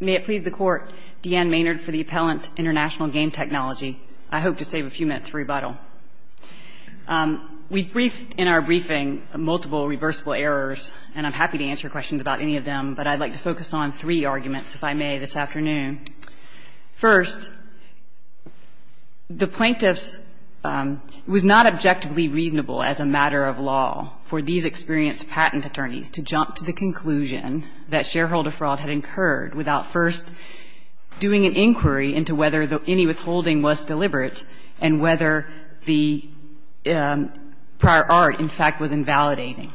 May it please the Court, Deanne Maynard for the Appellant, International Game Technology. I hope to save a few minutes for rebuttal. We've briefed in our briefing multiple reversible errors, and I'm happy to answer questions about any of them, but I'd like to focus on three arguments, if I may, this afternoon. First, the plaintiff's was not objectively reasonable as a matter of law for these experienced patent attorneys to jump to the conclusion that shareholder fraud had incurred without first doing an inquiry into whether any withholding was deliberate and whether the prior art, in fact, was invalidating.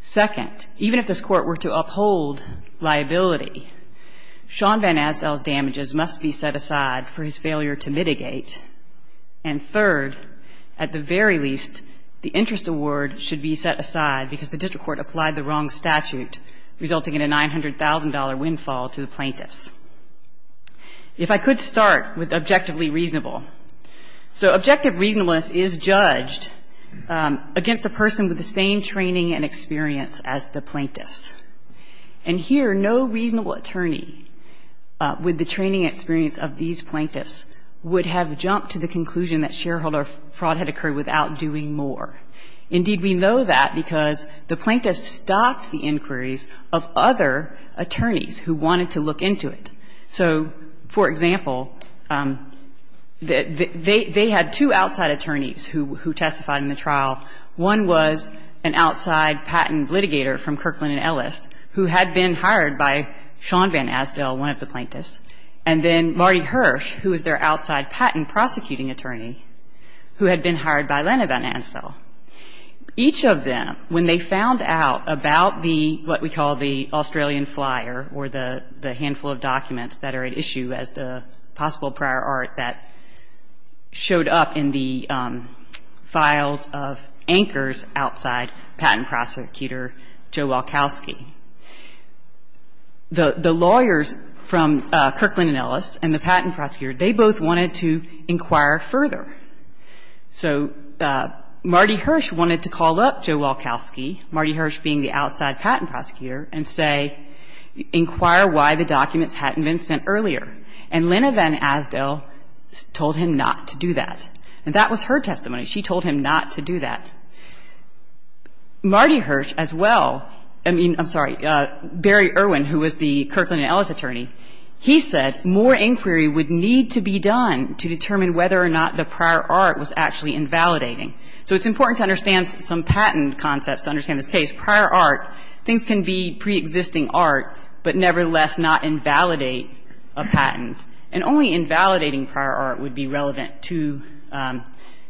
Second, even if this Court were to uphold liability, Sean Van Asdale's damages must be set aside for his failure to mitigate. And third, at the very least, the interest award should be set aside because the district court applied the wrong statute, resulting in a $900,000 windfall to the plaintiffs. If I could start with objectively reasonable. So objective reasonableness is judged against a person with the same training and experience as the plaintiffs. And here, no reasonable attorney with the training experience of these plaintiffs would have jumped to the conclusion that shareholder fraud had occurred without doing more. Indeed, we know that because the plaintiffs stopped the inquiries of other attorneys who wanted to look into it. So, for example, they had two outside attorneys who testified in the trial. One was an outside patent litigator from Kirkland & Ellis who had been hired by Sean Van Asdale, one of the plaintiffs, and then Marty Hirsch, who was their outside patent prosecuting attorney, who had been hired by Leonard Van Asdale. Each of them, when they found out about the, what we call the Australian flyer, or the handful of documents that are at issue as the possible prior art that showed up in the files of anchors outside patent prosecutor Joe Walkowski, the lawyers from Kirkland & Ellis and the patent prosecutor, they both wanted to inquire further. So Marty Hirsch wanted to call up Joe Walkowski, Marty Hirsch being the outside patent prosecutor, and say, inquire why the documents hadn't been sent earlier. And Leonard Van Asdale told him not to do that. And that was her testimony. She told him not to do that. Marty Hirsch as well, I mean, I'm sorry, Barry Irwin, who was the Kirkland & Ellis attorney, he said more inquiry would need to be done to determine whether or not the prior art was actually invalidating. So it's important to understand some patent concepts to understand this case. Prior art, things can be preexisting art, but nevertheless not invalidate a patent. And only invalidating prior art would be relevant to,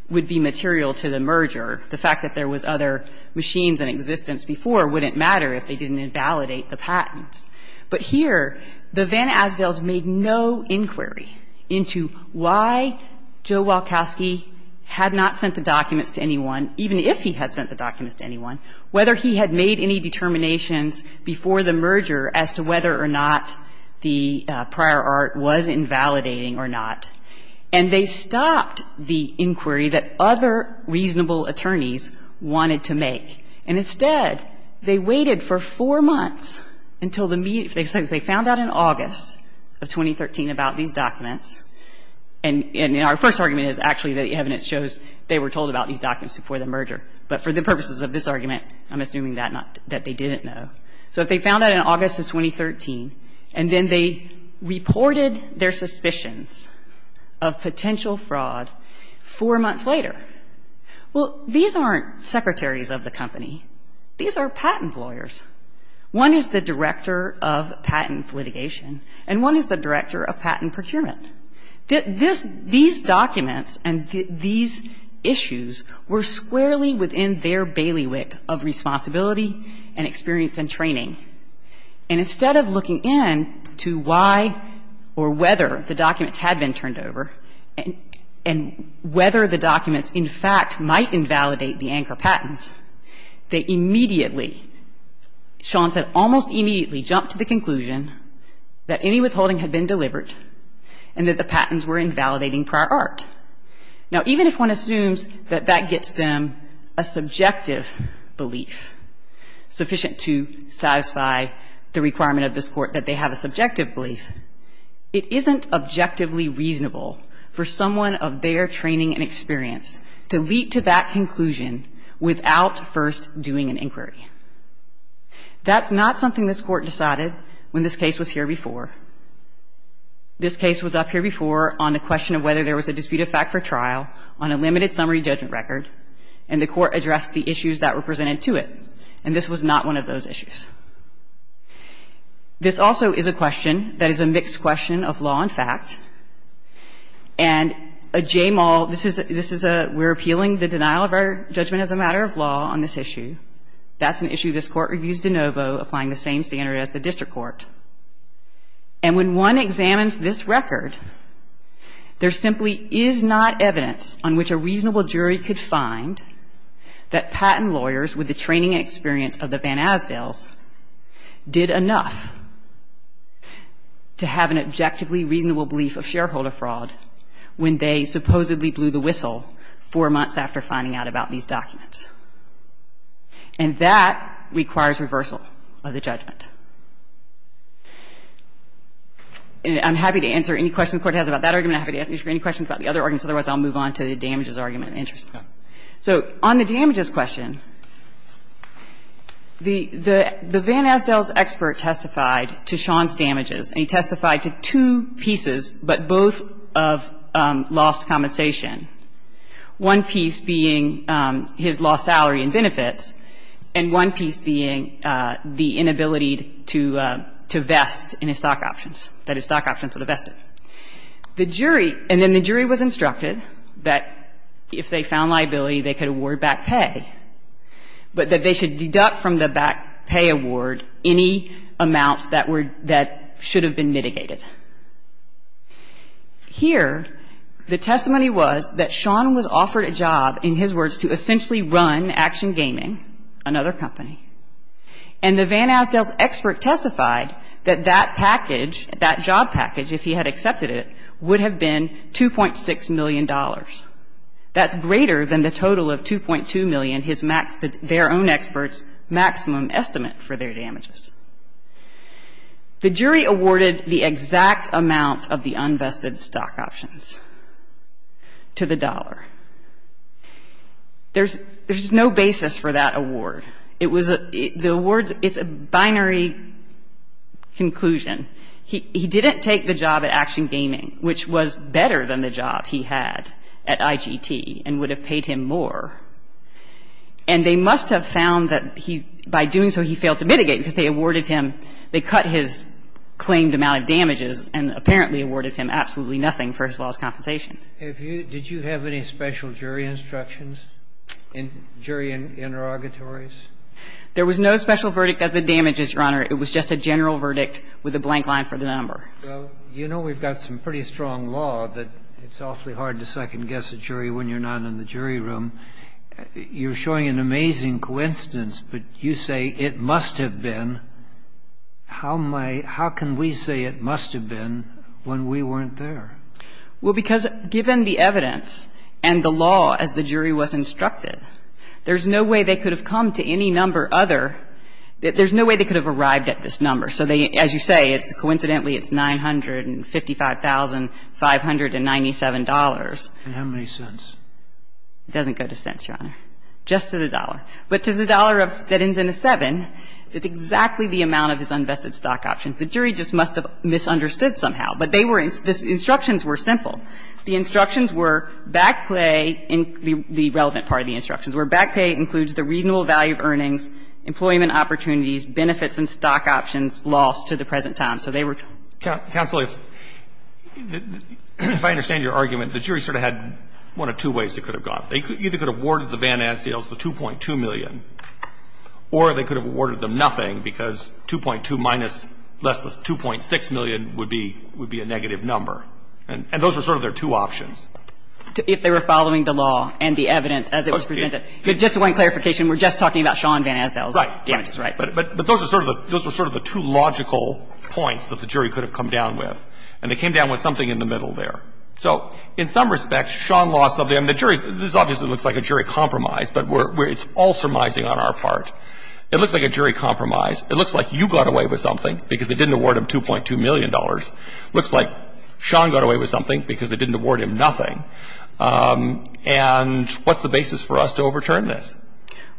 would be material to the merger. The fact that there was other machines in existence before wouldn't matter if they didn't invalidate the patents. But here, the Van Asdales made no inquiry into why Joe Walkowski had not sent the documents to anyone, even if he had sent the documents to anyone, whether he had made any determinations before the merger as to whether or not the prior art was invalidating or not. And they stopped the inquiry that other reasonable attorneys wanted to make. And instead, they waited for four months until the media, if they found out in August of 2013 about these documents, and our first argument is actually that the evidence shows they were told about these documents before the merger. But for the purposes of this argument, I'm assuming that they didn't know. So if they found out in August of 2013, and then they reported their suspicions of potential fraud four months later, well, these aren't secretaries of the company. These are patent lawyers. One is the director of patent litigation, and one is the director of patent procurement. These documents and these issues were squarely within their bailiwick of responsibility and experience and training. And instead of looking in to why or whether the documents had been turned over and whether the documents in fact might invalidate the anchor patents, they immediately Sean said, almost immediately, jumped to the conclusion that any withholding had been delivered and that the patents were invalidating prior art. Now, even if one assumes that that gets them a subjective belief, sufficient to satisfy the requirement of this Court that they have a subjective belief, it isn't objectively reasonable for someone of their training and experience to leap to that conclusion without first doing an inquiry. That's not something this Court decided when this case was here before. This case was up here before on the question of whether there was a dispute of fact for trial on a limited summary judgment record, and the Court addressed the issues that were presented to it, and this was not one of those issues. This also is a question that is a mixed question of law and fact, and a JMAL – this is a – we're appealing the denial of our judgment as a matter of law on this issue. That's an issue this Court reviews de novo, applying the same standard as the district court. And when one examines this record, there simply is not evidence on which a reasonable jury could find that patent lawyers with the training and experience of the Van Asdaels did enough to have an objectively reasonable belief of shareholder fraud when they supposedly blew the whistle four months after finding out about these documents. And that requires reversal of the judgment. I'm happy to answer any questions the Court has about that argument. I'm happy to answer any questions about the other arguments. Otherwise, I'll move on to the damages argument in interest. So on the damages question, the Van Asdaels expert testified to Sean's damages, and he testified to two pieces, but both of lost compensation, one piece being his lost salary and benefits, and one piece being the inability to vest in his stock options, that his stock options were vested. The jury — and then the jury was instructed that if they found liability, they could award back pay, but that they should deduct from the back pay award any amounts that were — that should have been mitigated. Here, the testimony was that Sean was offered a job, in his words, to essentially run Action Gaming, another company, and the Van Asdaels expert testified that that job package, if he had accepted it, would have been $2.6 million. That's greater than the total of $2.2 million, his max — their own expert's maximum estimate for their damages. The jury awarded the exact amount of the unvested stock options to the dollar. There's no basis for that award. It was a — the award — it's a binary conclusion. He didn't take the job at Action Gaming, which was better than the job he had at IGT and would have paid him more. And they must have found that he — by doing so, he failed to mitigate because they awarded him — they cut his claimed amount of damages and apparently awarded him absolutely nothing for his lost compensation. Did you have any special jury instructions in jury interrogatories? There was no special verdict as to the damages, Your Honor. It was just a general verdict with a blank line for the number. Well, you know we've got some pretty strong law that it's awfully hard to second guess a jury when you're not in the jury room. You're showing an amazing coincidence, but you say it must have been. How am I — how can we say it must have been when we weren't there? Well, because given the evidence and the law as the jury was instructed, there's no way they could have come to any number other — there's no way they could have arrived at this number. So they — as you say, it's — coincidentally, it's $955,597. And how many cents? It doesn't go to cents, Your Honor, just to the dollar. But to the dollar of — that ends in a 7, that's exactly the amount of his unvested stock options. The jury just must have misunderstood somehow. But they were — the instructions were simple. The instructions were back pay in the relevant part of the instructions, where back pay includes the reasonable value of earnings, employment opportunities, benefits, and stock options lost to the present time. So they were — Counsel, if I understand your argument, the jury sort of had one of two ways they could have gone. They either could have awarded the Van Asdaels the 2.2 million, or they could have awarded them nothing, because 2.2 minus less the 2.6 million would be — would be a negative number. And those were sort of their two options. If they were following the law and the evidence as it was presented. Just one clarification. We're just talking about Sean Van Asdaels. Right. Right. But those are sort of the — those are sort of the two logical points that the jury could have come down with. And they came down with something in the middle there. So in some respect, Sean lost something. I mean, the jury — this obviously looks like a jury compromise, but we're — it's all surmising on our part. It looks like a jury compromise. It looks like you got away with something, because they didn't award him $2.2 million. It looks like Sean got away with something, because they didn't award him nothing. And what's the basis for us to overturn this?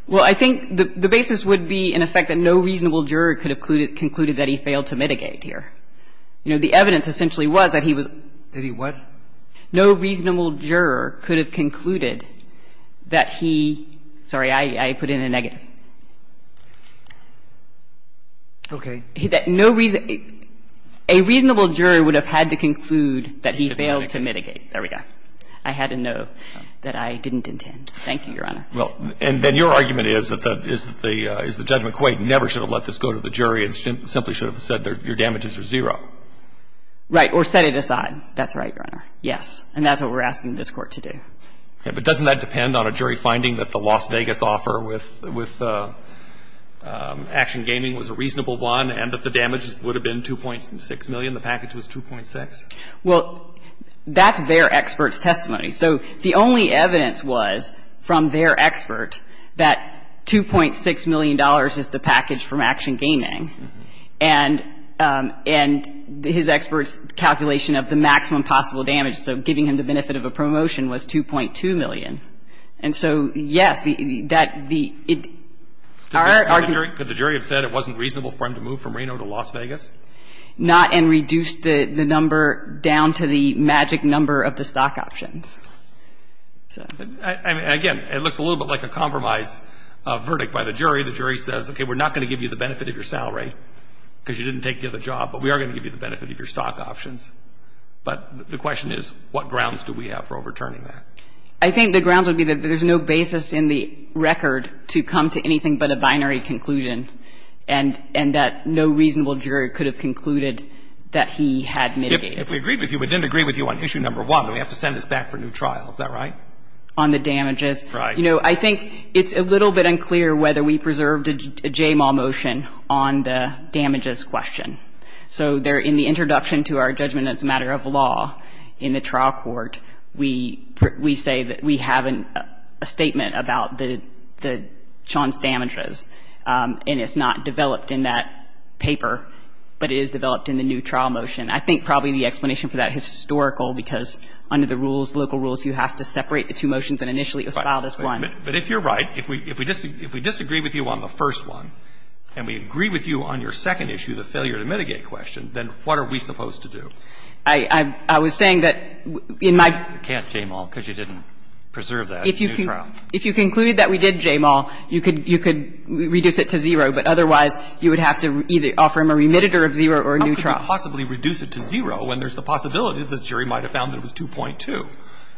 Well, I think the basis would be, in effect, that no reasonable juror could have concluded that he failed to mitigate here. You know, the evidence essentially was that he was — Did he what? No reasonable juror could have concluded that he — sorry, I put in a negative. Okay. That no reason — a reasonable juror would have had to conclude that he failed to mitigate. There we go. I had to know that I didn't intend. Thank you, Your Honor. Well, and then your argument is that the — is that the — is that Judge McQuaid never should have let this go to the jury and simply should have said, your damages are zero. Right. Or set it aside. That's right, Your Honor. Yes. And that's what we're asking this Court to do. Okay. But doesn't that depend on a jury finding that the Las Vegas offer with — with Action Gaming was a reasonable one and that the damage would have been $2.6 million, the package was $2.6? Well, that's their expert's testimony. So the only evidence was from their expert that $2.6 million is the package from Action Gaming. And — and his expert's calculation of the maximum possible damage, so giving him the benefit of a promotion, was $2.2 million. And so, yes, that the — our argument — Could the jury have said it wasn't reasonable for him to move from Reno to Las Vegas? Not and reduced the number down to the magic number of the stock options. So — I mean, again, it looks a little bit like a compromise verdict by the jury. The jury says, okay, we're not going to give you the benefit of your salary because you didn't take the other job, but we are going to give you the benefit of your stock options. But the question is, what grounds do we have for overturning that? I think the grounds would be that there's no basis in the record to come to anything but a binary conclusion and — and that no reasonable jury could have concluded that he had mitigated. If we agreed with you, we didn't agree with you on issue number one. We have to send this back for a new trial, is that right? On the damages. Right. You know, I think it's a little bit unclear whether we preserved a JMAW motion on the damages question. So there — in the introduction to our judgment that's a matter of law in the trial court, we — we say that we have a statement about the — the — Sean's damages, and it's not developed in that paper, but it is developed in the new trial motion. I think probably the explanation for that is historical, because under the rules, local rules, you have to separate the two motions and initially assign this one. But if you're right, if we — if we disagree with you on the first one, and we agree with you on your second issue, the failure to mitigate question, then what are we supposed to do? I — I was saying that in my — You can't JMAW because you didn't preserve that new trial. If you concluded that we did JMAW, you could — you could reduce it to zero, but otherwise you would have to either offer him a remitter of zero or a new trial. You can't possibly reduce it to zero when there's the possibility the jury might have found that it was 2.2.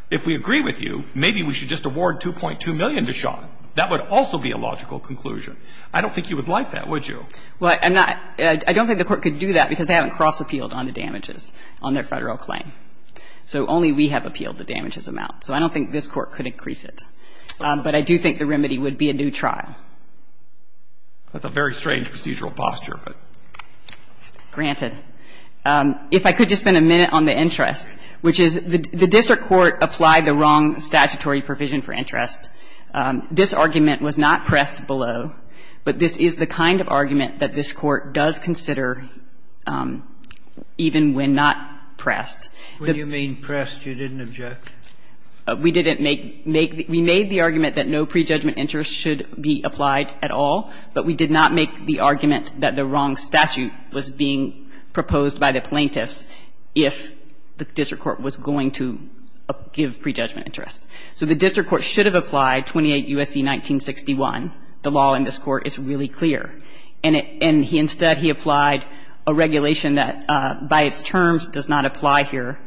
If we agree with you, maybe we should just award 2.2 million to Sean. That would also be a logical conclusion. I don't think you would like that, would you? Well, I'm not — I don't think the Court could do that because they haven't cross-appealed on the damages on their Federal claim. So only we have appealed the damages amount. So I don't think this Court could increase it. But I do think the remedy would be a new trial. That's a very strange procedural posture, but — But I don't think it's granted. If I could just spend a minute on the interest, which is the district court applied the wrong statutory provision for interest. This argument was not pressed below, but this is the kind of argument that this Court does consider even when not pressed. When you mean pressed, you didn't object? We didn't make — we made the argument that no prejudgment interest should be applied at all, but we did not make the argument that the wrong statute was being proposed by the plaintiffs if the district court was going to give prejudgment interest. So the district court should have applied 28 U.S.C. 1961. The law in this Court is really clear. And it — and instead he applied a regulation that by its terms does not apply here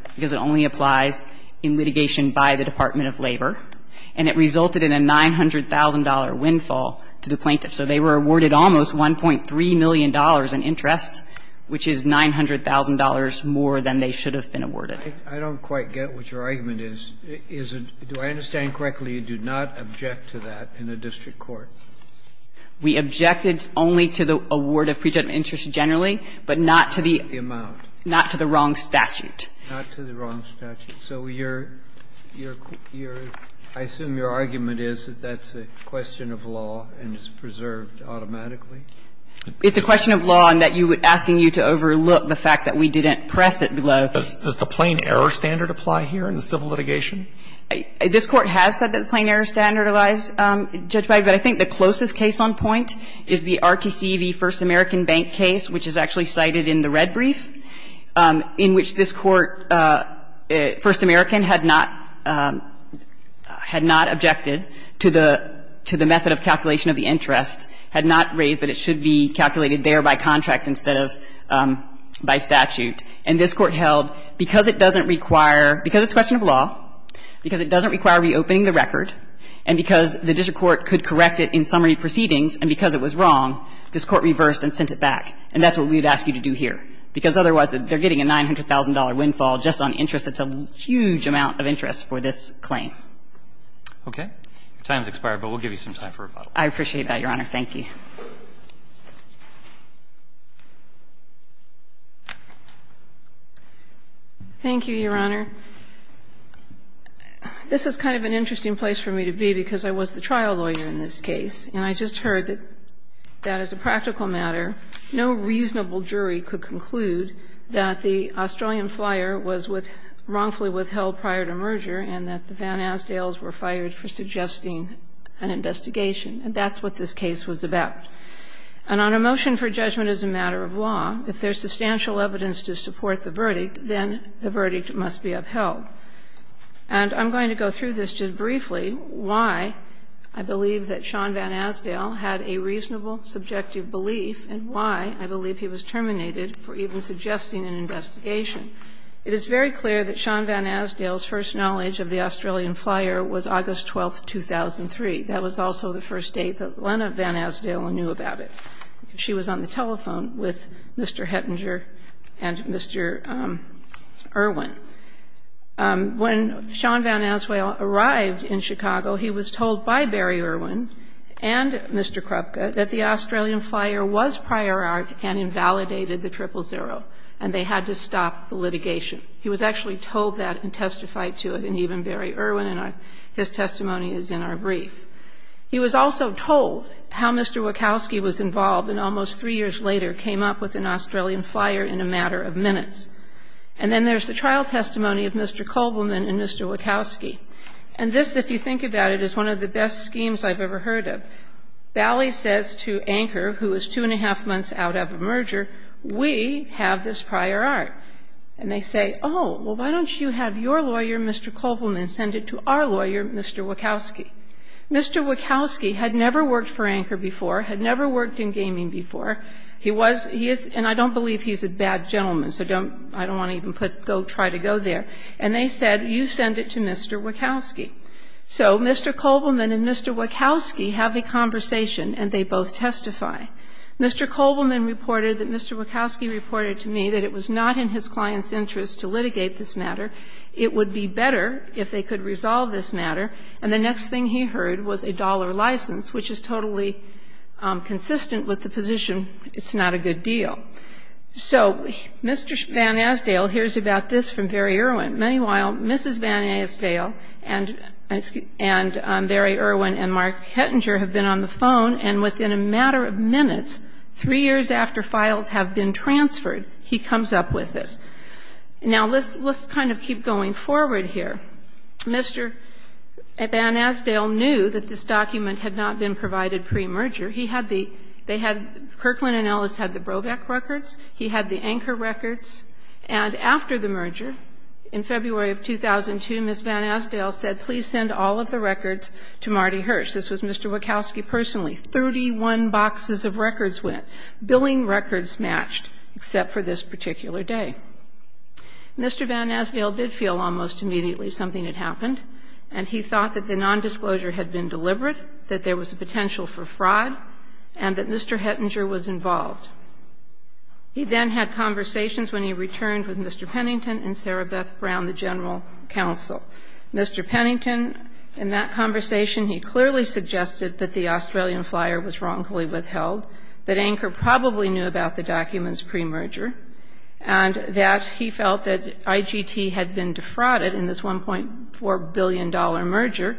And it resulted in a $900,000 windfall to the plaintiffs. So they were awarded almost $1.3 million in interest, which is $900,000 more than they should have been awarded. I don't quite get what your argument is. Is it — do I understand correctly, you do not object to that in a district court? We objected only to the award of prejudgment interest generally, but not to the — The amount. Not to the wrong statute. Not to the wrong statute. So your — your — I assume your argument is that that's a question of law and it's preserved automatically? It's a question of law in that you — asking you to overlook the fact that we didn't press it below. Does the plain error standard apply here in the civil litigation? This Court has said that the plain error standard applies, Judge Breyer, but I think the closest case on point is the RTC v. First American Bank case, which is actually cited in the red brief, in which this Court, First American, had not — had not objected to the — to the method of calculation of the interest, had not raised that it should be calculated there by contract instead of by statute. And this Court held because it doesn't require — because it's a question of law, because it doesn't require reopening the record, and because the district court could correct it in summary proceedings, and because it was wrong, this Court reversed and sent it back. And that's what we've asked you to do here, because otherwise they're getting a $900,000 windfall just on interest. It's a huge amount of interest for this claim. Okay. Your time's expired, but we'll give you some time for rebuttal. I appreciate that, Your Honor. Thank you. Thank you, Your Honor. This is kind of an interesting place for me to be because I was the trial lawyer in this case, and I just heard that as a practical matter, no reasonable jury could conclude that the Australian flyer was wrongfully withheld prior to merger and that the Van Asdaels were fired for suggesting an investigation. And that's what this case was about. And on a motion for judgment as a matter of law, if there's substantial evidence And I'm going to go through this just briefly, why I believe that Sean Van Asdael had a reasonable subjective belief and why I believe he was terminated for even suggesting an investigation. It is very clear that Sean Van Asdael's first knowledge of the Australian flyer was August 12, 2003. That was also the first date that Lena Van Asdael knew about it. She was on the telephone with Mr. Hettinger and Mr. Irwin. When Sean Van Asdael arrived in Chicago, he was told by Barry Irwin and Mr. Krupka that the Australian flyer was prior art and invalidated the triple zero, and they had to stop the litigation. He was actually told that and testified to it, and even Barry Irwin, and his testimony is in our brief. He was also told how Mr. Wachowski was involved and almost three years later came up with an Australian flyer in a matter of minutes. And then there's the trial testimony of Mr. Kovelman and Mr. Wachowski. And this, if you think about it, is one of the best schemes I've ever heard of. Bally says to Anker, who is two and a half months out of a merger, we have this prior art. And they say, oh, well, why don't you have your lawyer, Mr. Kovelman, send it to our lawyer, Mr. Wachowski. Mr. Wachowski had never worked for Anker before, had never worked in gaming before. He was he is, and I don't believe he's a bad gentleman, so don't, I don't want to even put, go try to go there. And they said, you send it to Mr. Wachowski. So Mr. Kovelman and Mr. Wachowski have a conversation and they both testify. Mr. Kovelman reported that Mr. Wachowski reported to me that it was not in his client's interest to litigate this matter. It would be better if they could resolve this matter. And the next thing he heard was a dollar license, which is totally consistent with the position, it's not a good deal. So Mr. Van Asdale hears about this from Barry Erwin. Meanwhile, Mrs. Van Asdale and Barry Erwin and Mark Hettinger have been on the phone, and within a matter of minutes, three years after files have been transferred, he comes up with this. Now, let's kind of keep going forward here. Mr. Van Asdale knew that this document had not been provided pre-merger. He had the – they had – Kirkland and Ellis had the Brobeck records. He had the Anker records. And after the merger, in February of 2002, Ms. Van Asdale said, please send all of the records to Marty Hirsch. This was Mr. Wachowski personally. Thirty-one boxes of records went. Billing records matched, except for this particular day. Mr. Van Asdale did feel almost immediately something had happened, and he thought that the nondisclosure had been deliberate, that there was a potential for fraud, and that Mr. Hettinger was involved. He then had conversations when he returned with Mr. Pennington and Sarah Beth Brown, the general counsel. Mr. Pennington, in that conversation, he clearly suggested that the Australian flyer was wrongfully withheld, that Anker probably knew about the documents pre-merger, and that he felt that IGT had been defrauded in this $1.4 billion merger,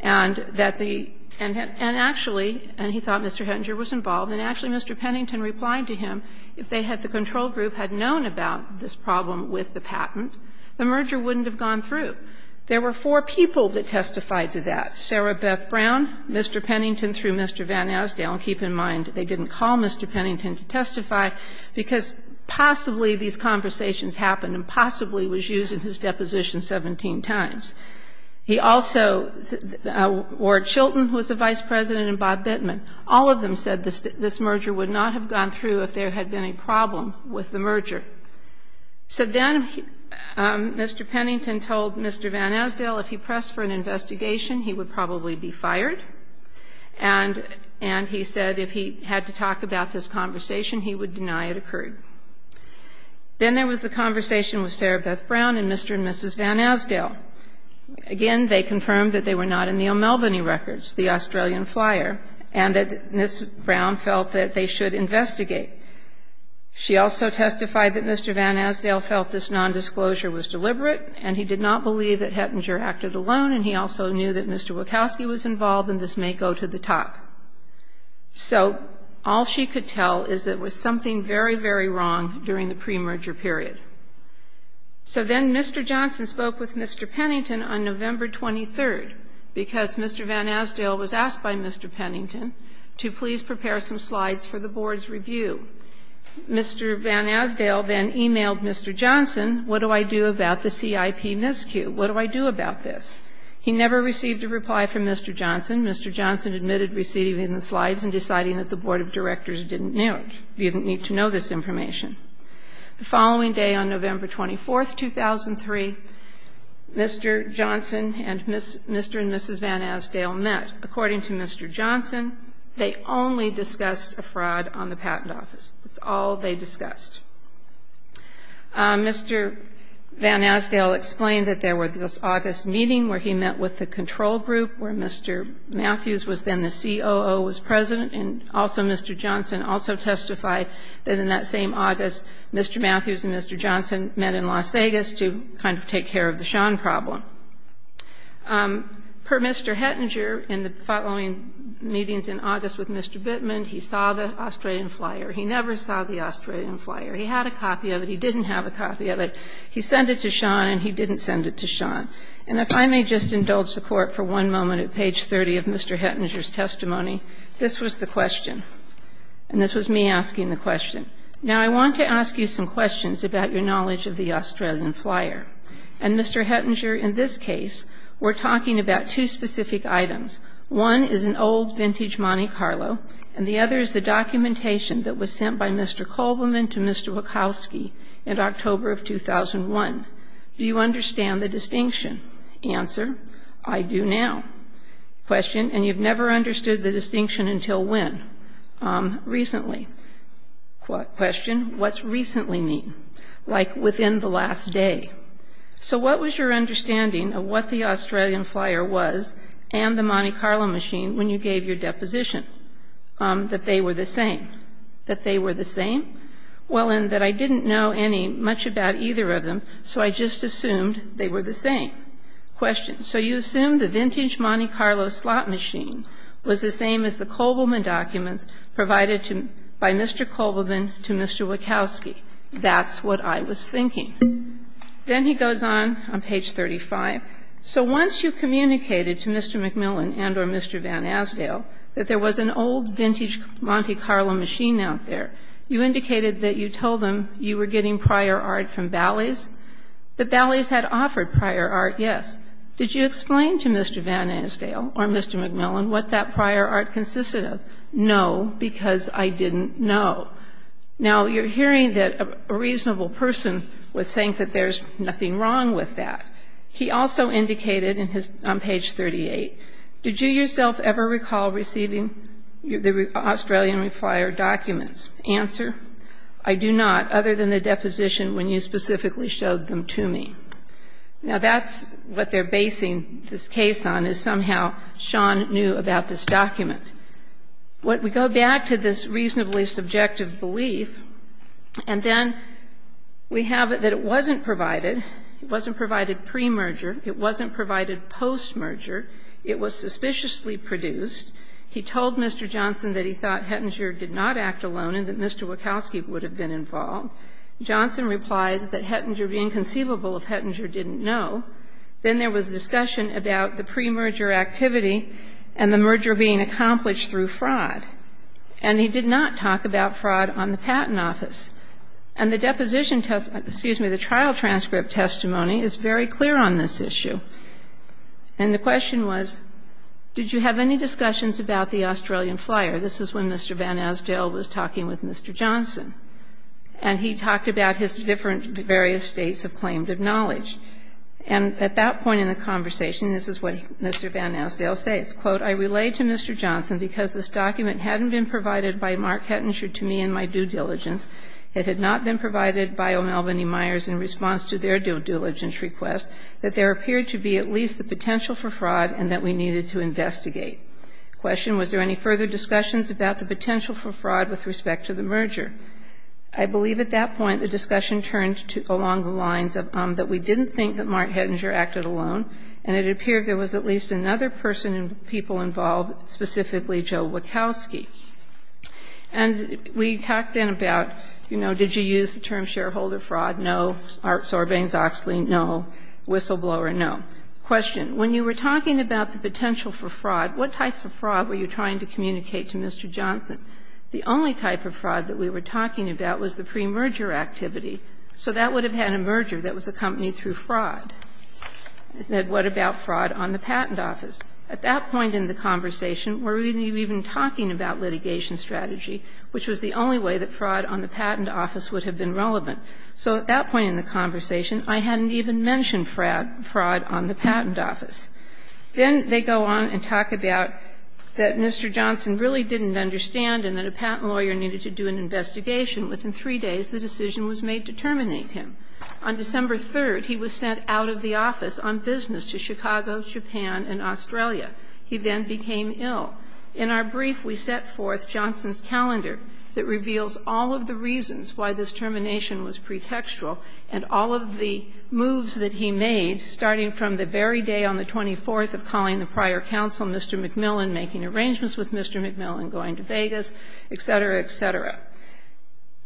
and that the and actually, and he thought Mr. Hettinger was involved, and actually Mr. Pennington replied to him, if they had, the control group, had known about this problem with the patent, the merger wouldn't have gone through. There were four people that testified to that, Sarah Beth Brown, Mr. Pennington through Mr. Van Asdale. Keep in mind, they didn't call Mr. Pennington to testify, because possibly these conversations happened and possibly was used in his deposition 17 times. He also, Ward Chilton, who was the vice president, and Bob Bittman, all of them said this merger would not have gone through if there had been a problem with the merger. So then Mr. Pennington told Mr. Van Asdale if he pressed for an investigation, he would probably be fired. And he said if he had to talk about this conversation, he would deny it occurred. Then there was the conversation with Sarah Beth Brown and Mr. and Mrs. Van Asdale. Again, they confirmed that they were not in the O'Melveny records, the Australian flyer, and that Mrs. Brown felt that they should investigate. She also testified that Mr. Van Asdale felt this nondisclosure was deliberate and he did not believe that Hettinger acted alone, and he also knew that Mr. Wachowski was involved and this may go to the top. So all she could tell is that there was something very, very wrong during the premerger period. So then Mr. Johnson spoke with Mr. Pennington on November 23rd, because Mr. Van Asdale was asked by Mr. Pennington to please prepare some slides for the board's review. Mr. Van Asdale then e-mailed Mr. Johnson, what do I do about the CIP miscue, what do I do about this? He never received a reply from Mr. Johnson. Mr. Johnson admitted receiving the slides and deciding that the board of directors didn't need to know this information. The following day on November 24th, 2003, Mr. Johnson and Mr. and Mrs. Van Asdale met. According to Mr. Johnson, they only discussed a fraud on the patent office. That's all they discussed. Mr. Van Asdale explained that there was this August meeting where he met with the control group where Mr. Matthews was then the COO, was president, and also Mr. Johnson also testified that in that same August, Mr. Matthews and Mr. Johnson met in Las Vegas to kind of take care of the Sean problem. Per Mr. Hettinger, in the following meetings in August with Mr. Bittman, he saw the Australian flyer. He never saw the Australian flyer. He had a copy of it. He didn't have a copy of it. He sent it to Sean, and he didn't send it to Sean. And if I may just indulge the Court for one moment at page 30 of Mr. Hettinger's testimony, this was the question. And this was me asking the question. Now, I want to ask you some questions about your knowledge of the Australian flyer. And, Mr. Hettinger, in this case, we're talking about two specific items. One is an old vintage Monte Carlo, and the other is the documentation that was sent by Mr. Kohlman to Mr. Wachowski in October of 2001. Do you understand the distinction? Answer, I do now. Question, and you've never understood the distinction until when? Recently. Question, what's recently mean? Like within the last day. So what was your understanding of what the Australian flyer was and the Monte Carlo machine when you gave your deposition? That they were the same. That they were the same? Well, and that I didn't know any much about either of them, so I just assumed they were the same. Question, so you assumed the vintage Monte Carlo slot machine was the same as the Kohlman documents provided by Mr. Kohlman to Mr. Wachowski. That's what I was thinking. Then he goes on, on page 35. So once you communicated to Mr. McMillan and or Mr. Van Asdale that there was an old vintage Monte Carlo machine out there, you indicated that you told them you were getting prior art from Bally's, that Bally's had offered prior art, yes. Did you explain to Mr. Van Asdale or Mr. McMillan what that prior art consisted of? No, because I didn't know. Now, you're hearing that a reasonable person was saying that there's nothing wrong with that. He also indicated on page 38, did you yourself ever recall receiving the Australian flyer documents? Answer, I do not, other than the deposition when you specifically showed them to me. Now, that's what they're basing this case on, is somehow Sean knew about this document. What we go back to this reasonably subjective belief, and then we have that it wasn't provided, it wasn't provided pre-merger, it wasn't provided post-merger, it was suspiciously produced. He told Mr. Johnson that he thought Hettinger did not act alone and that Mr. Wachowski would have been involved. Johnson replies that Hettinger would be inconceivable if Hettinger didn't know. Then there was discussion about the pre-merger activity and the merger being accomplished through fraud. And he did not talk about fraud on the Patent Office. And the deposition test, excuse me, the trial transcript testimony is very clear on this issue. And the question was, did you have any discussions about the Australian flyer? This is when Mr. Van Asdale was talking with Mr. Johnson. And he talked about his different various states of claim of knowledge. And at that point in the conversation, this is what Mr. Van Asdale says, quote, I relay to Mr. Johnson because this document hadn't been provided by Mark Hettinger to me in my due diligence. It had not been provided by O'Melveny Myers in response to their due diligence request that there appeared to be at least the potential for fraud and that we needed to investigate. Question, was there any further discussions about the potential for I believe at that point the discussion turned along the lines that we didn't think that Mark Hettinger acted alone and it appeared there was at least another person and people involved, specifically Joe Wachowski. And we talked then about, you know, did you use the term shareholder fraud? No. Art Sorbanes-Oxley, no. Whistleblower, no. Question, when you were talking about the potential for fraud, what type of fraud were you trying to communicate to Mr. Johnson? The only type of fraud that we were talking about was the premerger activity. So that would have had a merger that was accompanied through fraud. I said, what about fraud on the patent office? At that point in the conversation, we're even talking about litigation strategy, which was the only way that fraud on the patent office would have been relevant. So at that point in the conversation, I hadn't even mentioned fraud on the patent office. Then they go on and talk about that Mr. Johnson really didn't understand and that a patent lawyer needed to do an investigation. Within three days, the decision was made to terminate him. On December 3rd, he was sent out of the office on business to Chicago, Japan and Australia. He then became ill. In our brief, we set forth Johnson's calendar that reveals all of the reasons why this termination was pretextual and all of the moves that he made, starting from the very day on the 24th of calling the prior counsel, Mr. MacMillan, making arrangements with Mr. MacMillan, going to Vegas, et cetera, et cetera.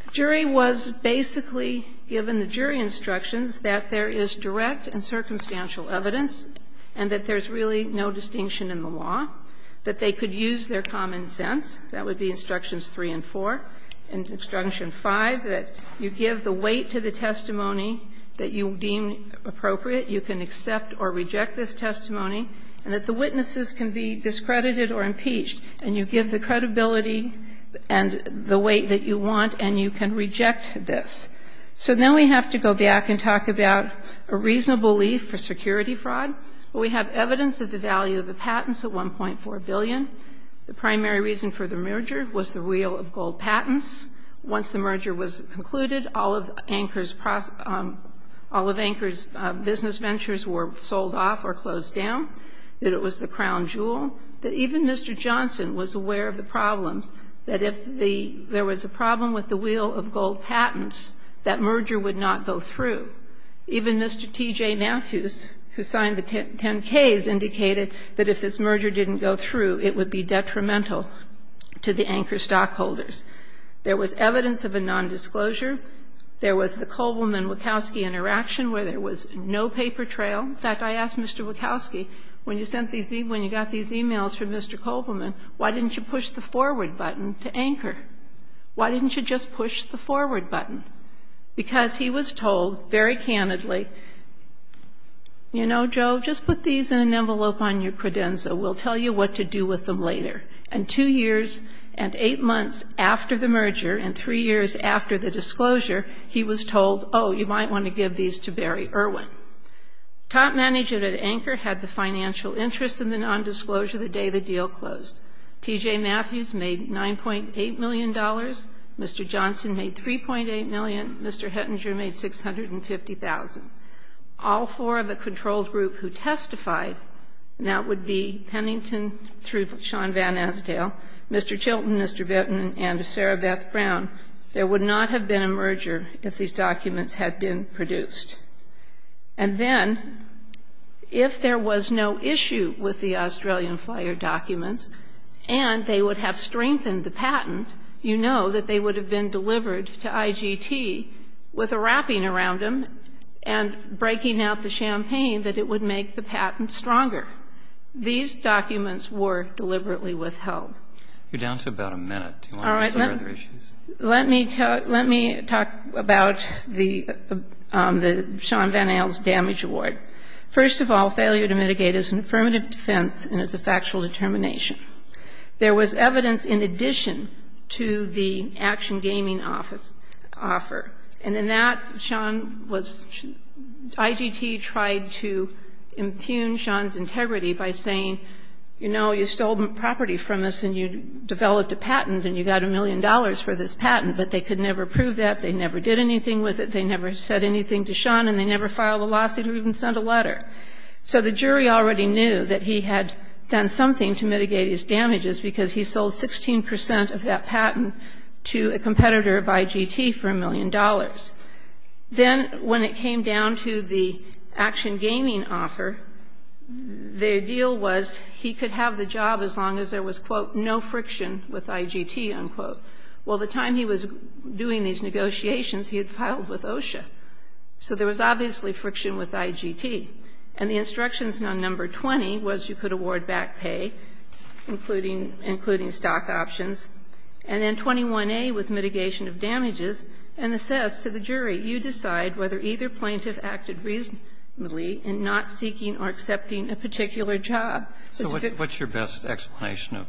The jury was basically given the jury instructions that there is direct and circumstantial evidence and that there's really no distinction in the law, that they could use their common sense. That would be Instructions 3 and 4. In Instruction 5, that you give the weight to the testimony that you deem appropriate. You can accept or reject this testimony. And that the witnesses can be discredited or impeached. And you give the credibility and the weight that you want and you can reject this. So now we have to go back and talk about a reasonable leave for security fraud. We have evidence of the value of the patents at $1.4 billion. The primary reason for the merger was the real of gold patents. Once the merger was concluded, all of Anchor's business ventures were sold off or closed down. It was the crown jewel. Even Mr. Johnson was aware of the problems, that if there was a problem with the real of gold patents, that merger would not go through. Even Mr. T.J. Mathews, who signed the 10-Ks, indicated that if this merger didn't go through, it would be detrimental to the Anchor stockholders. There was evidence of a nondisclosure. There was the Kovlman-Wachowski interaction where there was no paper trail. In fact, I asked Mr. Wachowski, when you sent these emails, when you got these emails from Mr. Kovlman, why didn't you push the forward button to Anchor? Why didn't you just push the forward button? Because he was told, very candidly, you know, Joe, just put these in an envelope on your credenza. We'll tell you what to do with them later. And two years and eight months after the merger and three years after the disclosure, he was told, oh, you might want to give these to Barry Irwin. Top manager at Anchor had the financial interest in the nondisclosure the day the deal closed. T.J. Mathews made $9.8 million. Mr. Johnson made $3.8 million. Mr. Hettinger made $650,000. All four of the controlled group who testified, and that would be Pennington through Sean Van Asdale, Mr. Chilton, Mr. Bitton, and Sarah Beth Brown, there would not have been a merger if these documents had been produced. And then, if there was no issue with the Australian Flyer documents and they would have strengthened the patent, you know that they would have been delivered to IGT with a wrapping around them and breaking out the champagne that it would make the patent stronger. These documents were deliberately withheld. Roberts, you're down to about a minute. Do you want to go to other issues? Let me talk about the Sean Van Asdale's damage award. First of all, failure to mitigate is an affirmative defense and is a factual determination. There was evidence in addition to the Action Gaming Office offer, and in that, Sean was IGT tried to impugn Sean's integrity by saying, you know, you stole property from us and you developed a patent and you got a million dollars for this patent, but they could never prove that, they never did anything with it, they never said anything to Sean, and they never filed a lawsuit or even sent a letter. So the jury already knew that he had done something to mitigate his damages because he sold 16 percent of that patent to a competitor of IGT for a million dollars. Then when it came down to the Action Gaming offer, their deal was he could have the job as long as there was, quote, no friction with IGT, unquote. Well, the time he was doing these negotiations, he had filed with OSHA. So there was obviously friction with IGT. And the instructions on number 20 was you could award back pay, including stock options, and then 21A was mitigation of damages, and it says to the jury, you decide whether either plaintiff acted reasonably in not seeking or accepting a particular job. Roberts. So what's your best explanation of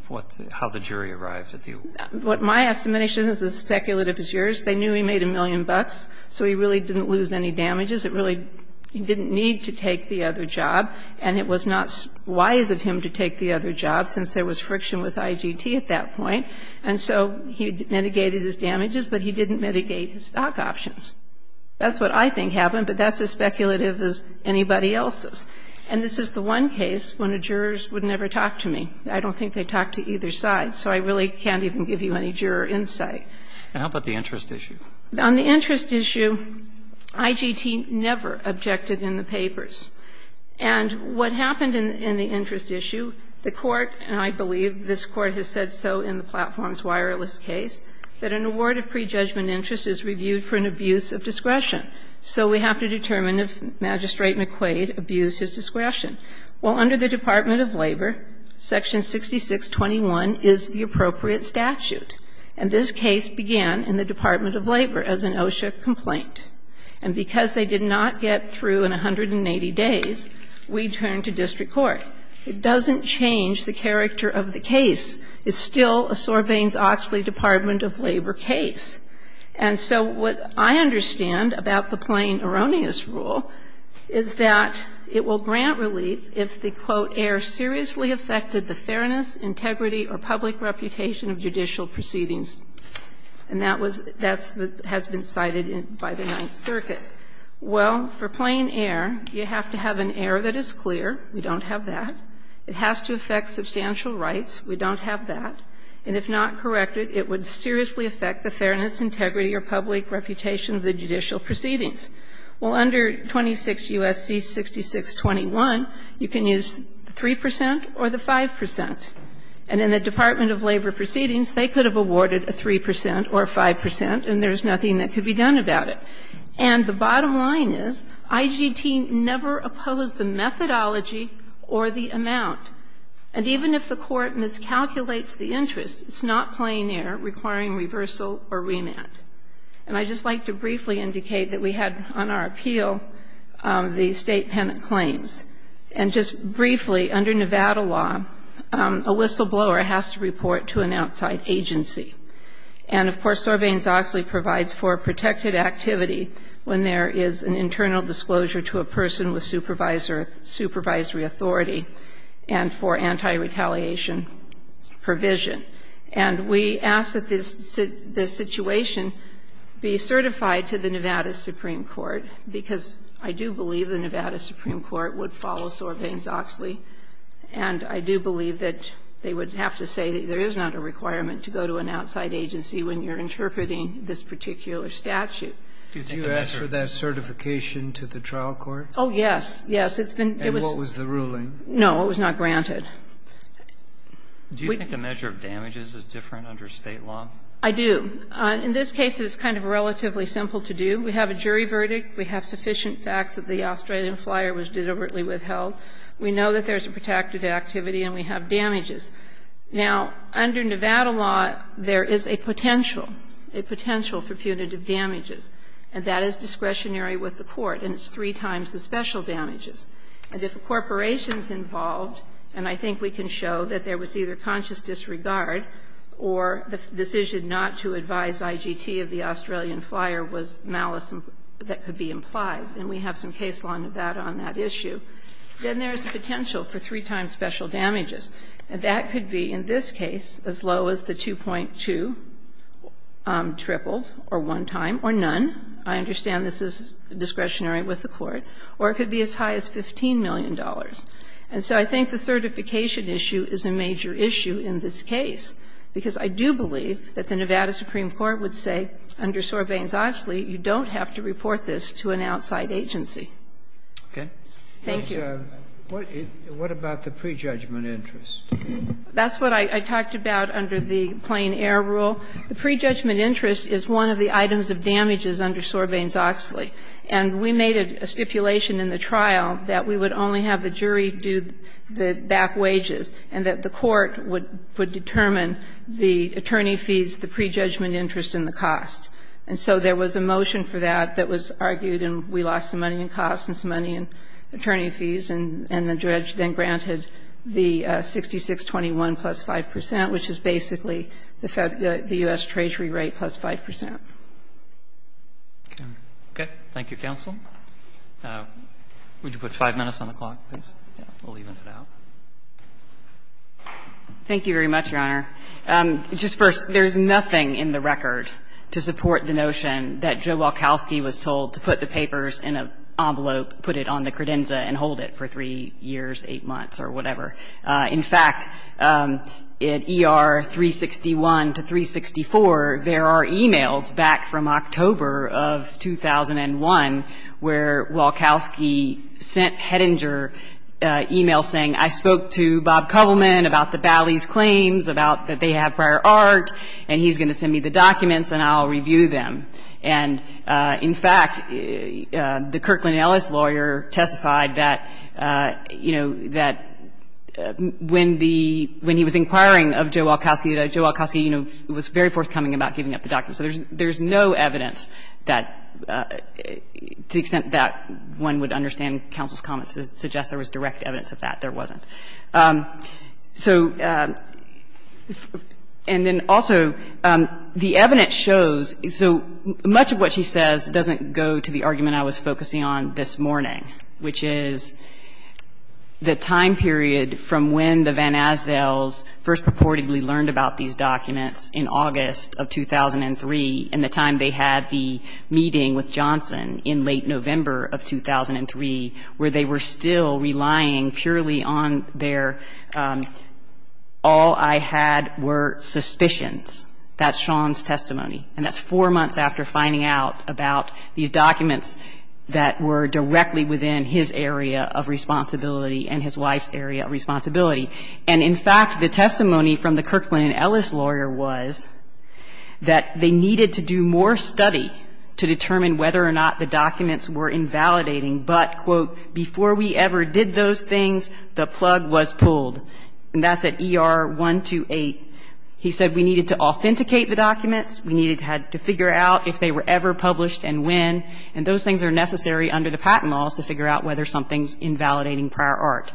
how the jury arrived at the offer? My estimation is as speculative as yours. They knew he made a million bucks, so he really didn't lose any damages. It really didn't need to take the other job, and it was not wise of him to take the other job, since there was friction with IGT at that point. And so he mitigated his damages, but he didn't mitigate his stock options. That's what I think happened, but that's as speculative as anybody else's. And this is the one case when a juror would never talk to me. I don't think they talked to either side, so I really can't even give you any juror insight. And how about the interest issue? On the interest issue, IGT never objected in the papers. And what happened in the interest issue, the Court, and I believe this Court has said so in the Platforms Wireless case, that an award of prejudgment interest is reviewed for an abuse of discretion. So we have to determine if Magistrate McQuaid abused his discretion. Well, under the Department of Labor, section 6621 is the appropriate statute. And this case began in the Department of Labor as an OSHA complaint. And because they did not get through in 180 days, we turned to district court. It doesn't change the character of the case. It's still a Sorbanes-Oxley Department of Labor case. And so what I understand about the plain erroneous rule is that it will grant relief if the, quote, "--er seriously affected the fairness, integrity, or public reputation of judicial proceedings." And that was the best that has been cited by the Ninth Circuit. Well, for plain error, you have to have an error that is clear. We don't have that. It has to affect substantial rights. We don't have that. And if not corrected, it would seriously affect the fairness, integrity, or public reputation of the judicial proceedings. Well, under 26 U.S.C. 6621, you can use 3 percent or the 5 percent. And in the Department of Labor proceedings, they could have awarded a 3 percent or a 5 percent, and there's nothing that could be done about it. And the bottom line is IGT never opposed the methodology or the amount. And even if the court miscalculates the interest, it's not plain error requiring reversal or remand. And I'd just like to briefly indicate that we had on our appeal the State penant claims. And just briefly, under Nevada law, a whistleblower has to report to an outside agency. And, of course, Sorbane-Zoxley provides for a protected activity when there is an internal disclosure to a person with supervisory authority and for anti-retaliation provision. And we ask that this situation be certified to the Nevada Supreme Court, because I do believe the Nevada Supreme Court would follow Sorbane-Zoxley, and I do believe that they would have to say that there is not a requirement to go to an outside agency when you're interpreting this particular statute. Do you ask for that certification to the trial court? Oh, yes. Yes. It's been, it was. And what was the ruling? No, it was not granted. Do you think the measure of damages is different under State law? I do. In this case, it's kind of relatively simple to do. We have a jury verdict. We have sufficient facts that the Australian flyer was deliberately withheld. We know that there's a protected activity and we have damages. Now, under Nevada law, there is a potential, a potential for punitive damages, and that is discretionary with the court, and it's three times the special damages. And if a corporation is involved, and I think we can show that there was either conscious disregard or the decision not to advise IGT of the Australian flyer was malice that could be implied, and we have some case law in Nevada on that issue, then there is a potential for three times special damages. And that could be, in this case, as low as the 2.2 tripled or one time or none. I understand this is discretionary with the court. Or it could be as high as $15 million. And so I think the certification issue is a major issue in this case, because I do believe that the Nevada Supreme Court would say, under Sorbanes-Oxley, you don't have to report this to an outside agency. Thank you. What about the prejudgment interest? That's what I talked about under the plain air rule. The prejudgment interest is one of the items of damages under Sorbanes-Oxley. And we made a stipulation in the trial that we would only have the jury do the back up, the attorney fees, the prejudgment interest, and the cost. And so there was a motion for that that was argued, and we lost some money in costs and some money in attorney fees, and the judge then granted the 6621 plus 5 percent, which is basically the U.S. Treasury rate plus 5 percent. Okay. Thank you, counsel. Would you put 5 minutes on the clock, please? We'll even it out. Thank you very much, Your Honor. Just first, there's nothing in the record to support the notion that Joe Walkowski was told to put the papers in an envelope, put it on the credenza, and hold it for 3 years, 8 months, or whatever. In fact, in ER 361 to 364, there are e-mails back from October of 2001 where Walkowski sent Hedinger e-mails saying, I spoke to Bob Kovelman about the Bally's claims, about that they have prior art, and he's going to send me the documents and I'll review them. And, in fact, the Kirkland Ellis lawyer testified that, you know, that when the — when he was inquiring of Joe Walkowski, that Joe Walkowski, you know, was very forthcoming about giving up the documents. So there's no evidence that, to the extent that one would understand counsel's comments to suggest there was direct evidence of that, there wasn't. So — and then also, the evidence shows — so much of what she says doesn't go to the argument I was focusing on this morning, which is the time period from when the Van Asdels first purportedly learned about these documents in August of 2003, and the time they had the meeting with Johnson in late November of 2003, where they were still relying purely on their all-I-had-were suspicions. That's Sean's testimony. And that's four months after finding out about these documents that were directly within his area of responsibility and his wife's area of responsibility. And, in fact, the testimony from the Kirkland Ellis lawyer was that they needed to do more study to determine whether or not the documents were invalidating, but, quote, before we ever did those things, the plug was pulled. And that's at ER 128. He said we needed to authenticate the documents. We needed to figure out if they were ever published and when. And those things are necessary under the patent laws to figure out whether something's invalidating prior art.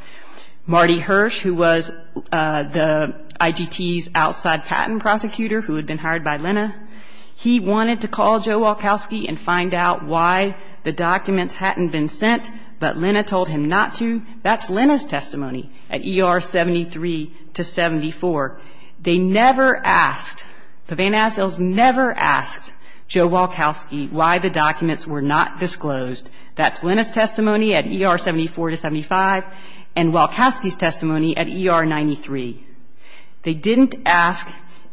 Marty Hirsch, who was the IGT's outside patent prosecutor, who had been hired by Lena, he wanted to call Joe Walkowski and find out why the documents hadn't been sent, but Lena told him not to. That's Lena's testimony at ER 73 to 74. They never asked, the Van Assels never asked Joe Walkowski why the documents were not disclosed. That's Lena's testimony at ER 74 to 75 and Walkowski's testimony at ER 93. They didn't ask,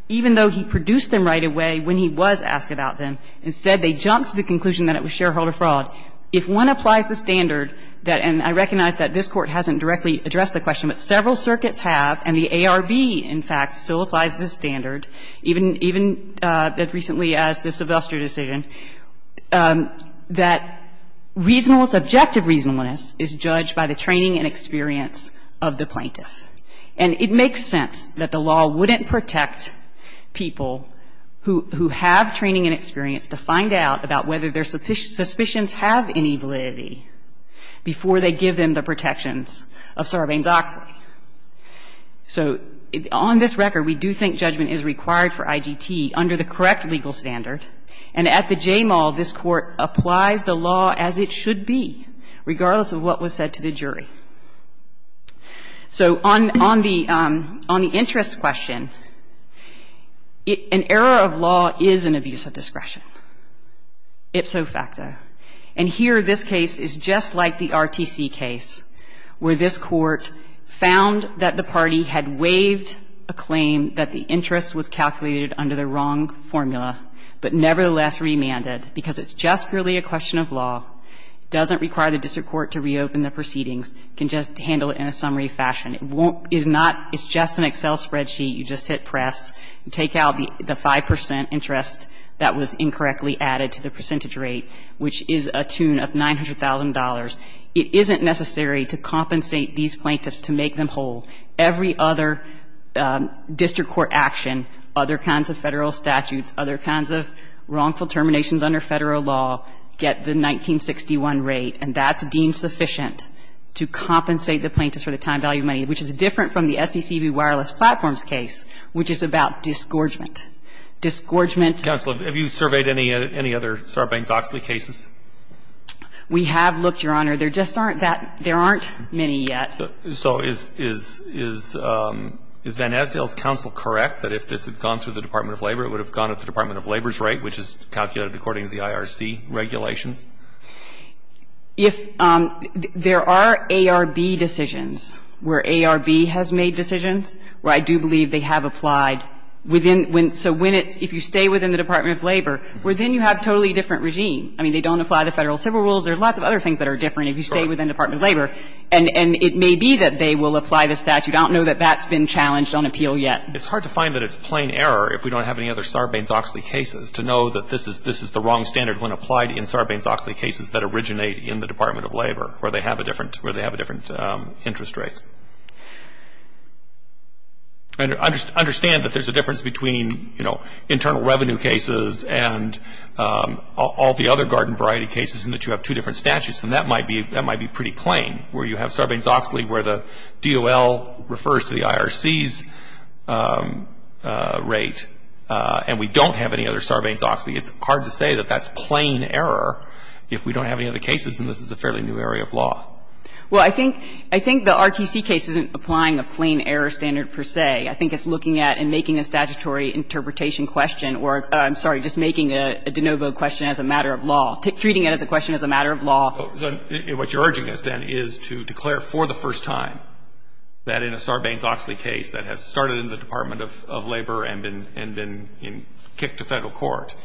even though he produced them right away when he was asked about them. Instead, they jumped to the conclusion that it was shareholder fraud. If one applies the standard that — and I recognize that this Court hasn't directly addressed the question, but several circuits have, and the ARB, in fact, still applies the standard, even as recently as the Sylvester decision, that reasonableness — objective reasonableness is judged by the training and experience of the plaintiff. And it makes sense that the law wouldn't protect people who have training and experience to find out about whether their suspicions have any validity before they give them the protections of Sarbanes-Oxley. So on this record, we do think judgment is required for IGT under the correct legal standard, and at the JMAL, this Court applies the law as it should be, regardless of what was said to the jury. So on the — on the interest question, an error of law is an abuse of discretion. Ipso facto. And here, this case is just like the RTC case, where this Court found that the party had waived a claim that the interest was calculated under the wrong formula, but nevertheless remanded, because it's just purely a question of law, doesn't require the district court to reopen the proceedings, can just handle it in a summary fashion. It won't — it's not — it's just an Excel spreadsheet you just hit press, take out the 5 percent interest that was incorrectly added to the percentage rate, which is a tune of $900,000. It isn't necessary to compensate these plaintiffs to make them whole. Every other district court action, other kinds of Federal statutes, other kinds of wrongful terminations under Federal law get the 1961 rate, and that's deemed sufficient to compensate the plaintiffs for the time, value, money, which is different from the disgorgement. Roberts, have you surveyed any other Sarbanes-Oxley cases? We have looked, Your Honor. There just aren't that — there aren't many yet. So is — is Van Asdale's counsel correct that if this had gone through the Department of Labor, it would have gone at the Department of Labor's rate, which is calculated according to the IRC regulations? If — there are ARB decisions where ARB has made decisions where I do believe they have applied within — when — so when it's — if you stay within the Department of Labor, well, then you have a totally different regime. I mean, they don't apply the Federal civil rules. There are lots of other things that are different if you stay within the Department of Labor. And — and it may be that they will apply the statute. I don't know that that's been challenged on appeal yet. It's hard to find that it's plain error if we don't have any other Sarbanes-Oxley cases to know that this is — this is the wrong standard when applied in Sarbanes-Oxley cases that originate in the Department of Labor, where they have a different — where they have a different interest rate. And understand that there's a difference between, you know, internal revenue cases and all the other garden variety cases in that you have two different statutes. And that might be — that might be pretty plain, where you have Sarbanes-Oxley where the DOL refers to the IRC's rate and we don't have any other Sarbanes-Oxley. It's hard to say that that's plain error if we don't have any other cases and this is a fairly new area of law. Well, I think — I think the RTC case isn't applying a plain error standard per se. I think it's looking at and making a statutory interpretation question or, I'm sorry, just making a de novo question as a matter of law. Treating it as a question as a matter of law. What you're urging us, then, is to declare for the first time that in a Sarbanes-Oxley case that has started in the Department of Labor and been kicked to Federal court,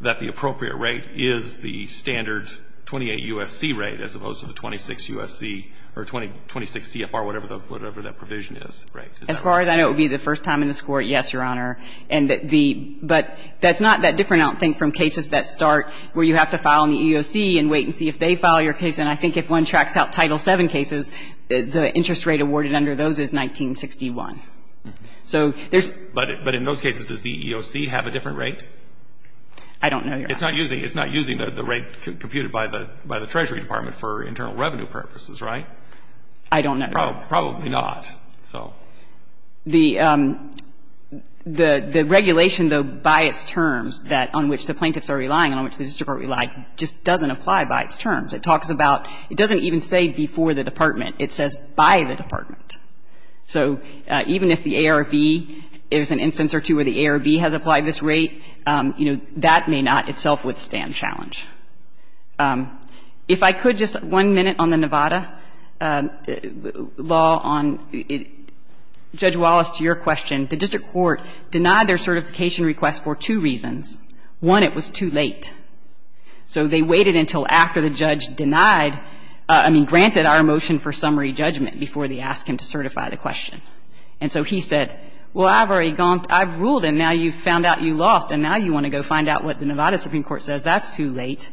that the appropriate rate is the standard 28 U.S.C. rate as opposed to the 26 U.S.C. or 26 CFR, whatever the — whatever that provision is, right? As far as I know, it would be the first time in this Court, yes, Your Honor. And the — but that's not that different, I don't think, from cases that start where you have to file in the EEOC and wait and see if they file your case. And I think if one tracks out Title VII cases, the interest rate awarded under those is 1961. So there's — But in those cases, does the EEOC have a different rate? I don't know, Your Honor. It's not using — it's not using the rate computed by the Treasury Department for internal revenue purposes, right? I don't know. Probably not. So. The regulation, though, by its terms that — on which the plaintiffs are relying and on which the district are relying just doesn't apply by its terms. It talks about — it doesn't even say before the department. It says by the department. And I think, you know, that may not itself withstand challenge. If I could, just one minute on the Nevada law on — Judge Wallace, to your question. The district court denied their certification request for two reasons. One, it was too late. So they waited until after the judge denied — I mean, granted our motion for summary judgment before they asked him to certify the question. And so he said, well, I've already gone — I've ruled, and now you've found out you lost, and now you want to go find out what the Nevada Supreme Court says. That's too late.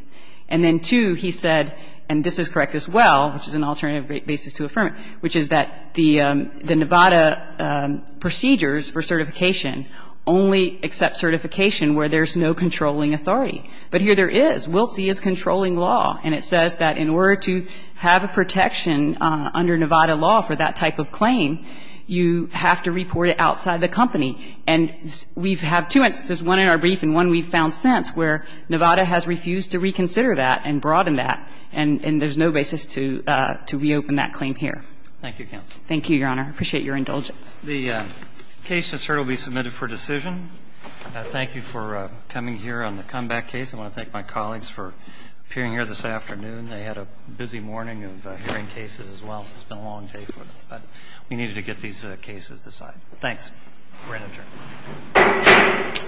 And then, two, he said — and this is correct as well, which is an alternative basis to affirm it — which is that the Nevada procedures for certification only accept certification where there's no controlling authority. But here there is. Wiltzie is controlling law, and it says that in order to have a protection under Nevada law for that type of claim, you have to report it outside the company. And we have two instances, one in our brief and one we've found since, where Nevada has refused to reconsider that and broaden that, and there's no basis to reopen that claim here. Thank you, Counsel. Thank you, Your Honor. I appreciate your indulgence. The case just heard will be submitted for decision. Thank you for coming here on the comeback case. I want to thank my colleagues for appearing here this afternoon. They had a busy morning of hearing cases as well, so it's been a long day for us. But we needed to get these cases decided. Thanks. We're adjourned. Thank you.